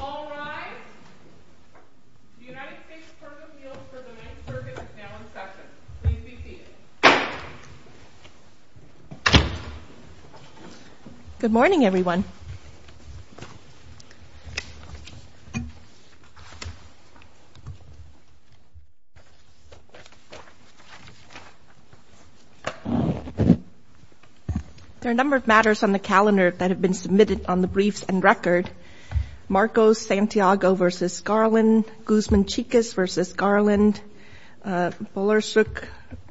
All rise. The United States purpose meal for the 9th Circuit is now in session. Please be seated. Good morning, everyone. There are a number of matters on the calendar that have been submitted on the briefs and record. Marcos Santiago v. Garland, Guzman Chicas v. Garland, Bulersuk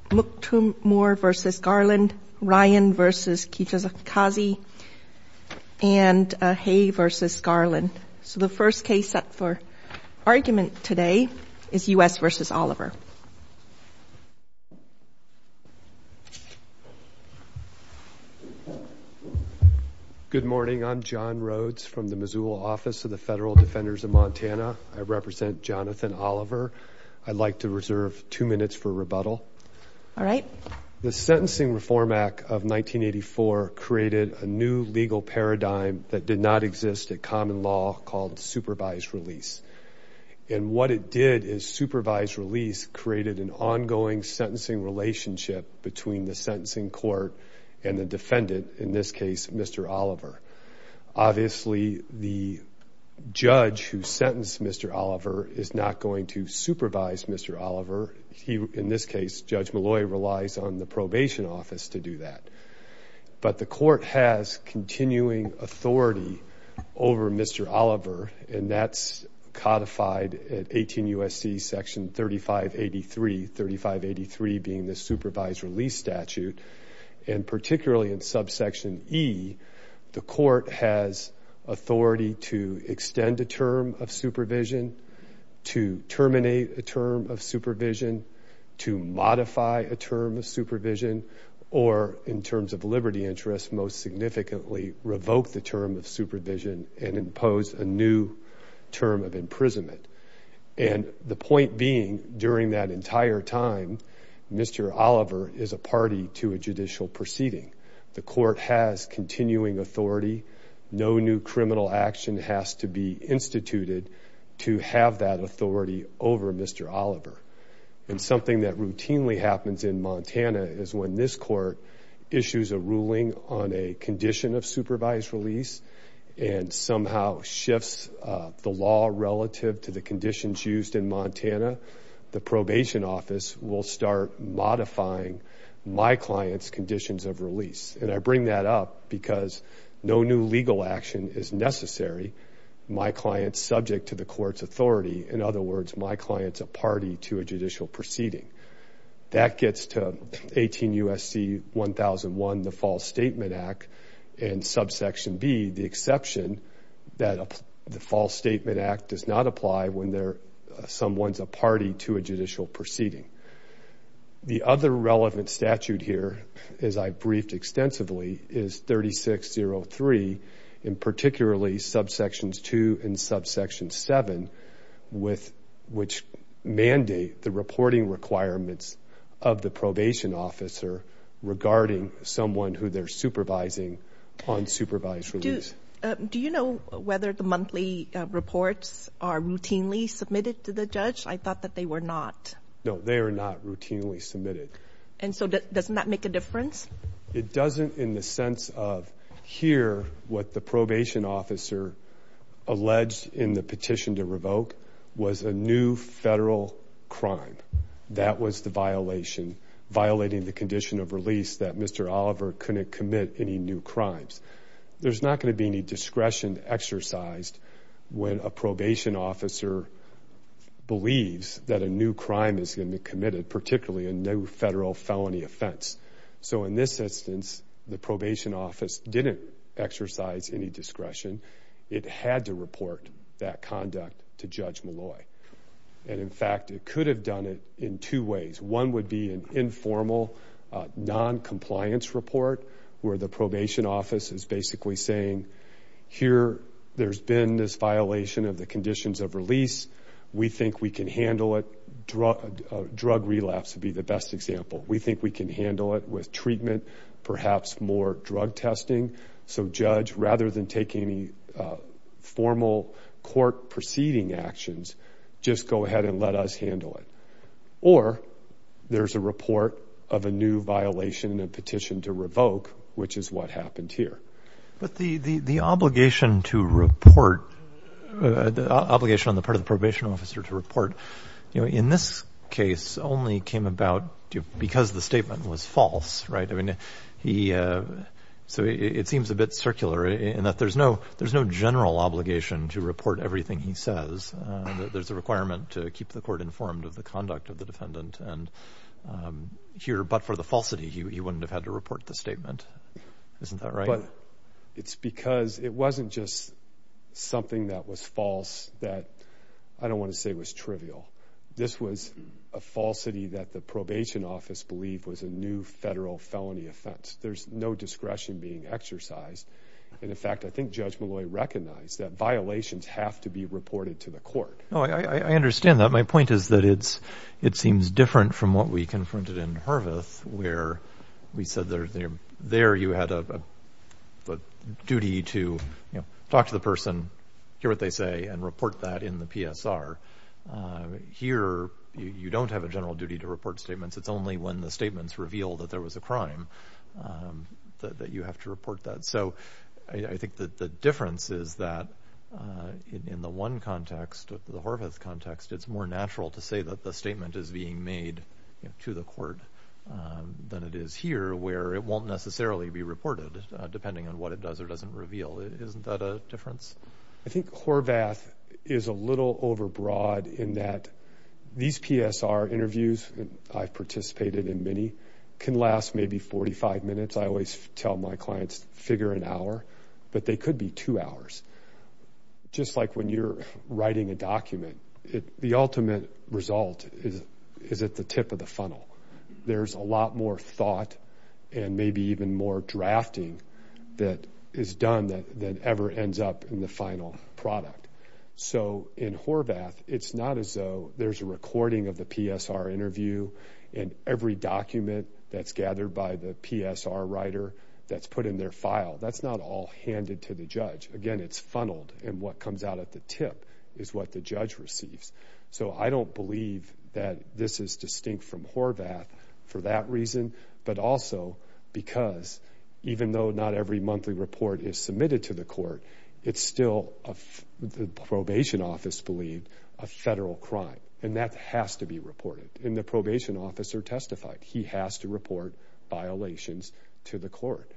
Muktumur v. Garland, Ryan v. Kijikazi, and Hay v. Garland. So the first case up for argument today is U.S. v. Oliver. Good morning. I'm John Rhodes from the Missoula Office of the Federal Defenders of Montana. I represent Jonathan Oliver. I'd like to reserve two minutes for rebuttal. All right. The Sentencing Reform Act of 1984 created a new legal paradigm that did not exist at common law called supervised release. And what it did is supervised release created an ongoing sentencing relationship between the sentencing court and the defendant, in this case, Mr. Oliver. Obviously, the judge who sentenced Mr. Oliver is not going to supervise Mr. Oliver. In this case, Judge Malloy relies on the probation office to do that. But the court has continuing authority over Mr. Oliver, and that's codified at 18 U.S.C. section 3583, 3583 being the supervised release statute. And particularly in subsection E, the court has authority to extend a term of supervision, to terminate a term of supervision, to modify a term of supervision, or, in terms of liberty interests, most significantly revoke the term of supervision and impose a new term of imprisonment. And the point being, during that entire time, Mr. Oliver is a party to a judicial proceeding. The court has continuing authority. No new criminal action has to be instituted to have that authority over Mr. Oliver. And something that routinely happens in Montana is when this court issues a ruling on a condition of supervised release and somehow shifts the law relative to the conditions used in Montana, the probation office will start modifying my client's conditions of release. And I bring that up because no new legal action is necessary. My client's subject to the court's authority. In other words, my client's a party to a judicial proceeding. That gets to 18 U.S.C. 1001, the False Statement Act, and subsection B, the exception that the False Statement Act does not apply when someone's a party to a judicial proceeding. The other relevant statute here, as I've briefed extensively, is 3603, and particularly subsections 2 and subsection 7, which mandate the reporting requirements of the probation officer regarding someone who they're supervising on supervised release. Do you know whether the monthly reports are routinely submitted to the judge? I thought that they were not. No, they are not routinely submitted. And so doesn't that make a difference? It doesn't in the sense of here what the probation officer alleged in the petition to revoke was a new federal crime. That was the violation, violating the condition of release that Mr. Oliver couldn't commit any new crimes. There's not going to be any discretion exercised when a probation officer believes that a new crime is going to be committed, particularly a new federal felony offense. So in this instance, the probation office didn't exercise any discretion. It had to report that conduct to Judge Malloy. And, in fact, it could have done it in two ways. One would be an informal noncompliance report where the probation office is basically saying, here there's been this violation of the conditions of release. We think we can handle it. Drug relapse would be the best example. We think we can handle it with treatment, perhaps more drug testing. So judge, rather than taking any formal court proceeding actions, just go ahead and let us handle it. Or there's a report of a new violation in a petition to revoke, which is what happened here. But the obligation to report, the obligation on the part of the probation officer to report, in this case only came about because the statement was false. So it seems a bit circular in that there's no general obligation to report everything he says. There's a requirement to keep the court informed of the conduct of the defendant. And here, but for the falsity, he wouldn't have had to report the statement. Isn't that right? But it's because it wasn't just something that was false that I don't want to say was trivial. This was a falsity that the probation office believed was a new federal felony offense. There's no discretion being exercised. And, in fact, I think Judge Malloy recognized that violations have to be reported to the court. I understand that. My point is that it seems different from what we confronted in Horvath, where we said there you had a duty to talk to the person, hear what they say, and report that in the PSR. Here, you don't have a general duty to report statements. It's only when the statements reveal that there was a crime that you have to report that. So I think the difference is that in the one context, the Horvath context, it's more natural to say that the statement is being made to the court than it is here, where it won't necessarily be reported depending on what it does or doesn't reveal. Isn't that a difference? I think Horvath is a little overbroad in that these PSR interviews, I've participated in many, can last maybe 45 minutes. I always tell my clients figure an hour, but they could be two hours. Just like when you're writing a document, the ultimate result is at the tip of the funnel. There's a lot more thought and maybe even more drafting that is done than ever ends up in the final product. So in Horvath, it's not as though there's a recording of the PSR interview and every document that's gathered by the PSR writer that's put in their file. That's not all handed to the judge. Again, it's funneled, and what comes out at the tip is what the judge receives. So I don't believe that this is distinct from Horvath for that reason, but also because even though not every monthly report is submitted to the court, it's still, the probation office believe, a federal crime, and that has to be reported. And the probation officer testified. He has to report violations to the court.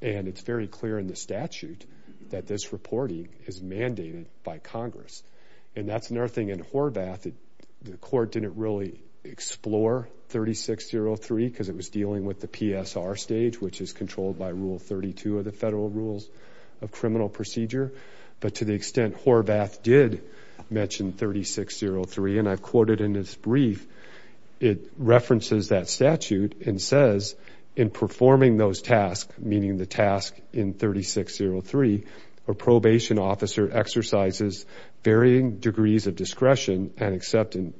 And it's very clear in the statute that this reporting is mandated by Congress. And that's another thing in Horvath that the court didn't really explore 3603 because it was dealing with the PSR stage, which is controlled by Rule 32 of the Federal Rules of Criminal Procedure. But to the extent Horvath did mention 3603, and I've quoted in his brief, it references that statute and says, in performing those tasks, meaning the task in 3603, a probation officer exercises varying degrees of discretion and except in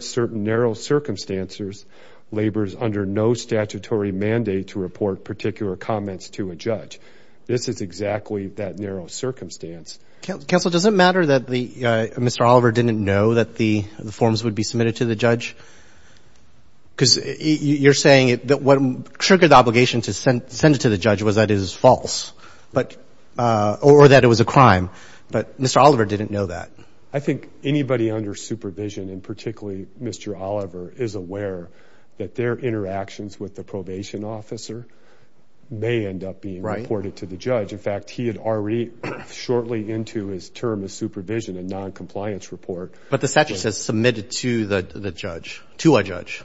certain narrow circumstances, labors under no statutory mandate to report particular comments to a judge. This is exactly that narrow circumstance. Counsel, does it matter that Mr. Oliver didn't know that the forms would be submitted to the judge? Because you're saying that what triggered the obligation to send it to the judge was that it was false, or that it was a crime, but Mr. Oliver didn't know that. I think anybody under supervision, and particularly Mr. Oliver, is aware that their interactions with the probation officer may end up being reported to the judge. In fact, he had already, shortly into his term as supervision, a noncompliance report. But the statute says submitted to the judge, to a judge.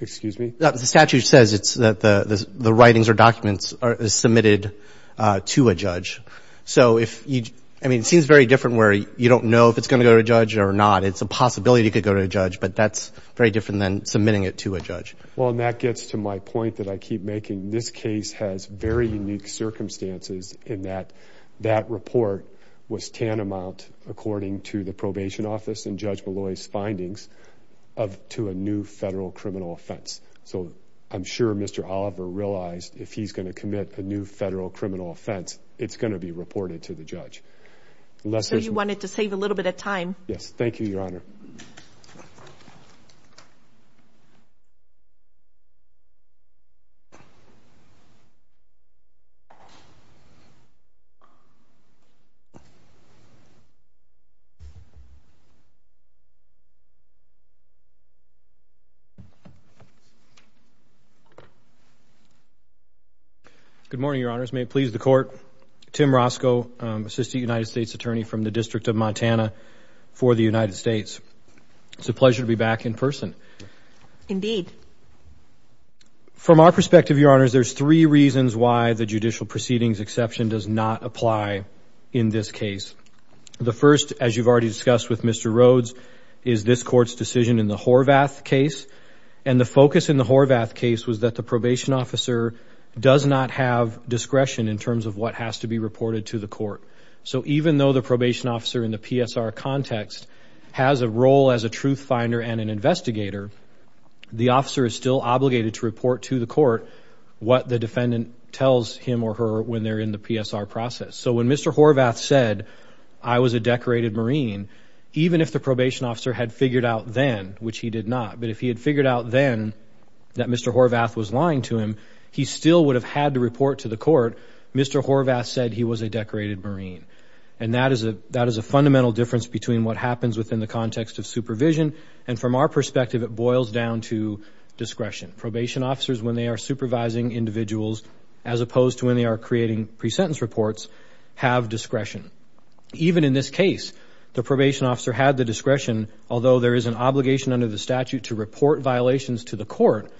Excuse me? The statute says that the writings or documents are submitted to a judge. So if you, I mean, it seems very different where you don't know if it's going to go to a judge or not. It's a possibility it could go to a judge, but that's very different than submitting it to a judge. Well, and that gets to my point that I keep making. This case has very unique circumstances in that that report was tantamount, according to the probation office and Judge Malloy's findings, to a new federal criminal offense. So I'm sure Mr. Oliver realized if he's going to commit a new federal criminal offense, it's going to be reported to the judge. So you wanted to save a little bit of time. Yes. Thank you, Your Honor. Thank you. Good morning, Your Honors. May it please the Court. Tim Roscoe, Assistant United States Attorney from the District of Montana for the United States. It's a pleasure to be back in person. Indeed. From our perspective, Your Honors, there's three reasons why the judicial proceedings exception does not apply in this case. The first, as you've already discussed with Mr. Rhodes, is this court's decision in the Horvath case. And the focus in the Horvath case was that the probation officer does not have discretion in terms of what has to be reported to the court. So even though the probation officer in the PSR context has a role as a truth finder and an investigator, the officer is still obligated to report to the court what the defendant tells him or her when they're in the PSR process. So when Mr. Horvath said, I was a decorated Marine, even if the probation officer had figured out then, which he did not, but if he had figured out then that Mr. Horvath was lying to him, he still would have had to report to the court, Mr. Horvath said he was a decorated Marine. And that is a fundamental difference between what happens within the context of supervision, and from our perspective, it boils down to discretion. Probation officers, when they are supervising individuals, as opposed to when they are creating pre-sentence reports, have discretion. Even in this case, the probation officer had the discretion, although there is an obligation under the statute to report violations to the court,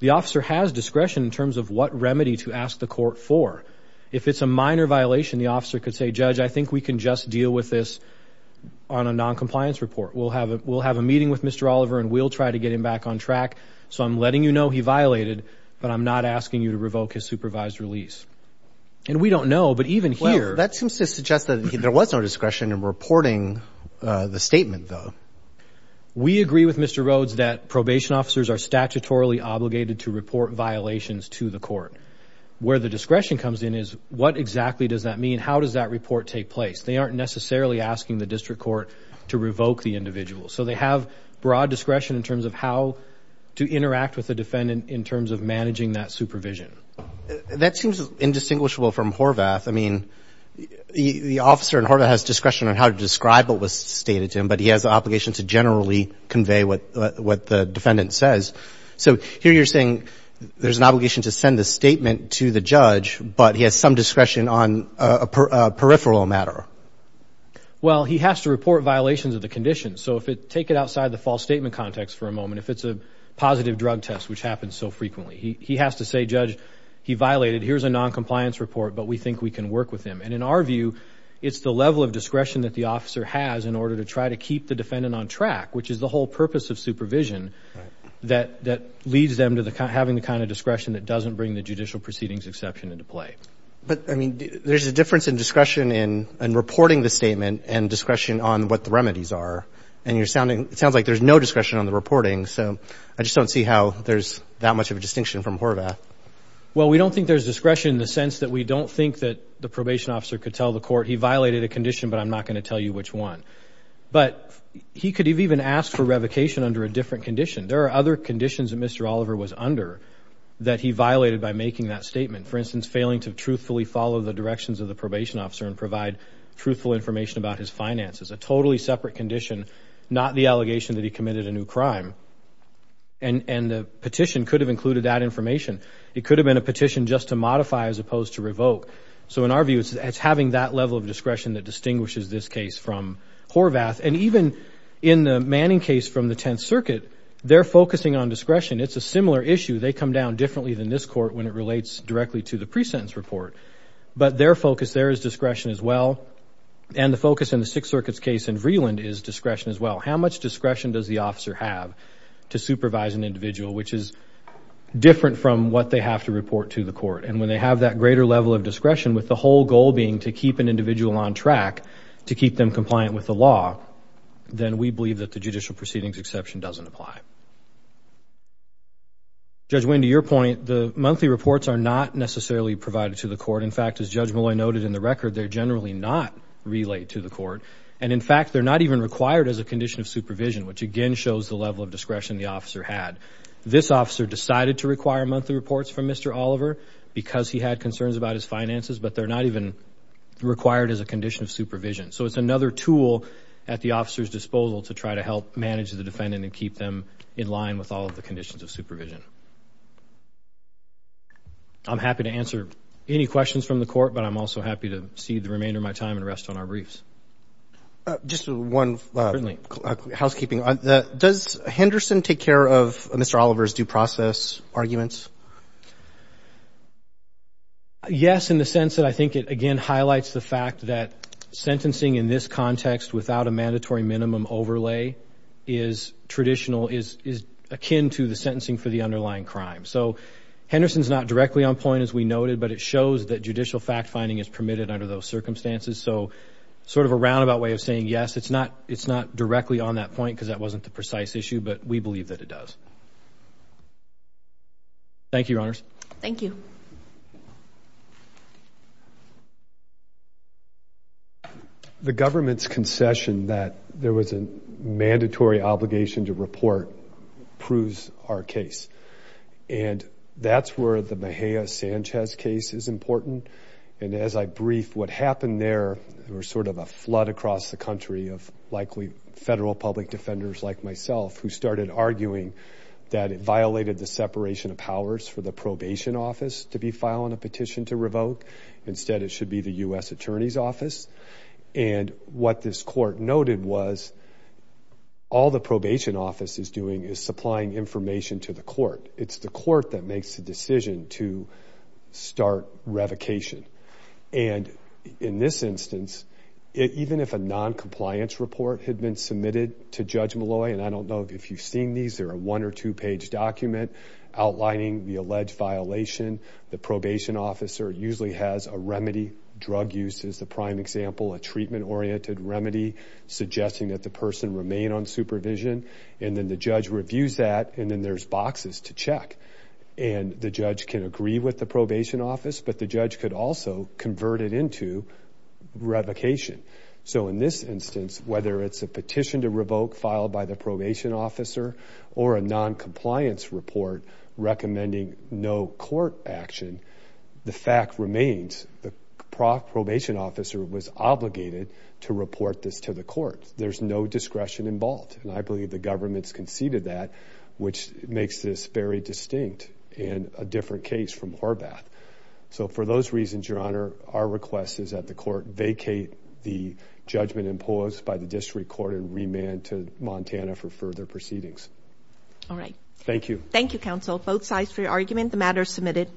the officer has discretion in terms of what remedy to ask the court for. If it's a minor violation, the officer could say, Judge, I think we can just deal with this on a noncompliance report. We'll have a meeting with Mr. Oliver and we'll try to get him back on track, so I'm letting you know he violated, but I'm not asking you to revoke his supervised release. And we don't know, but even here- Well, that seems to suggest that there was no discretion in reporting the statement, though. We agree with Mr. Rhodes that probation officers are statutorily obligated to report violations to the court. Where the discretion comes in is, what exactly does that mean? How does that report take place? They aren't necessarily asking the district court to revoke the individual. So they have broad discretion in terms of how to interact with the defendant in terms of managing that supervision. That seems indistinguishable from Horvath. I mean, the officer in Horvath has discretion on how to describe what was stated to him, but he has the obligation to generally convey what the defendant says. So here you're saying there's an obligation to send the statement to the judge, but he has some discretion on a peripheral matter. Well, he has to report violations of the condition. So if it-take it outside the false statement context for a moment. If it's a positive drug test, which happens so frequently, he has to say, Judge, he violated. Here's a noncompliance report, but we think we can work with him. And in our view, it's the level of discretion that the officer has in order to try to keep the defendant on track, which is the whole purpose of supervision, that leads them to having the kind of discretion that doesn't bring the judicial proceedings exception into play. But, I mean, there's a difference in discretion in reporting the statement and discretion on what the remedies are. And you're sounding-it sounds like there's no discretion on the reporting. So I just don't see how there's that much of a distinction from Horvath. Well, we don't think there's discretion in the sense that we don't think that the probation officer could tell the court, he violated a condition, but I'm not going to tell you which one. But he could have even asked for revocation under a different condition. There are other conditions that Mr. Oliver was under that he violated by making that statement. For instance, failing to truthfully follow the directions of the probation officer and provide truthful information about his finances, a totally separate condition, not the allegation that he committed a new crime. And the petition could have included that information. It could have been a petition just to modify as opposed to revoke. So in our view, it's having that level of discretion that distinguishes this case from Horvath. And even in the Manning case from the Tenth Circuit, they're focusing on discretion. It's a similar issue. They come down differently than this court when it relates directly to the pre-sentence report. But their focus there is discretion as well. And the focus in the Sixth Circuit's case in Vreeland is discretion as well. How much discretion does the officer have to supervise an individual, which is different from what they have to report to the court? And when they have that greater level of discretion, with the whole goal being to keep an individual on track to keep them compliant with the law, then we believe that the judicial proceedings exception doesn't apply. Judge Winn, to your point, the monthly reports are not necessarily provided to the court. In fact, as Judge Molloy noted in the record, they're generally not relayed to the court. And, in fact, they're not even required as a condition of supervision, which again shows the level of discretion the officer had. This officer decided to require monthly reports from Mr. Oliver because he had concerns about his finances, but they're not even required as a condition of supervision. So it's another tool at the officer's disposal to try to help manage the defendant and keep them in line with all of the conditions of supervision. I'm happy to answer any questions from the court, but I'm also happy to cede the remainder of my time and rest on our briefs. Just one housekeeping. Does Henderson take care of Mr. Oliver's due process arguments? Yes, in the sense that I think it, again, highlights the fact that sentencing in this context without a mandatory minimum overlay is traditional, is akin to the sentencing for the underlying crime. So Henderson's not directly on point, as we noted, but it shows that judicial fact-finding is permitted under those circumstances. So sort of a roundabout way of saying yes, it's not directly on that point because that wasn't the precise issue, but we believe that it does. Thank you, Your Honors. Thank you. The government's concession that there was a mandatory obligation to report proves our case. And that's where the Mejia-Sanchez case is important. And as I brief, what happened there was sort of a flood across the country of likely federal public defenders like myself who started arguing that it violated the separation of powers for the probation office to be filing a petition to revoke. Instead, it should be the U.S. Attorney's Office. And what this court noted was all the probation office is doing is supplying information to the court. It's the court that makes the decision to start revocation. And in this instance, even if a noncompliance report had been submitted to Judge Malloy, and I don't know if you've seen these. They're a one- or two-page document outlining the alleged violation. The probation officer usually has a remedy. Drug use is the prime example, a treatment-oriented remedy suggesting that the person remain on supervision. And then the judge reviews that, and then there's boxes to check. And the judge can agree with the probation office, but the judge could also convert it into revocation. So in this instance, whether it's a petition to revoke filed by the probation officer or a noncompliance report recommending no court action, the fact remains the probation officer was obligated to report this to the court. There's no discretion involved. And I believe the government's conceded that, which makes this very distinct and a different case from Horvath. So for those reasons, Your Honor, our request is that the court vacate the judgment imposed by the district court and remand to Montana for further proceedings. All right. Thank you. The matter is submitted.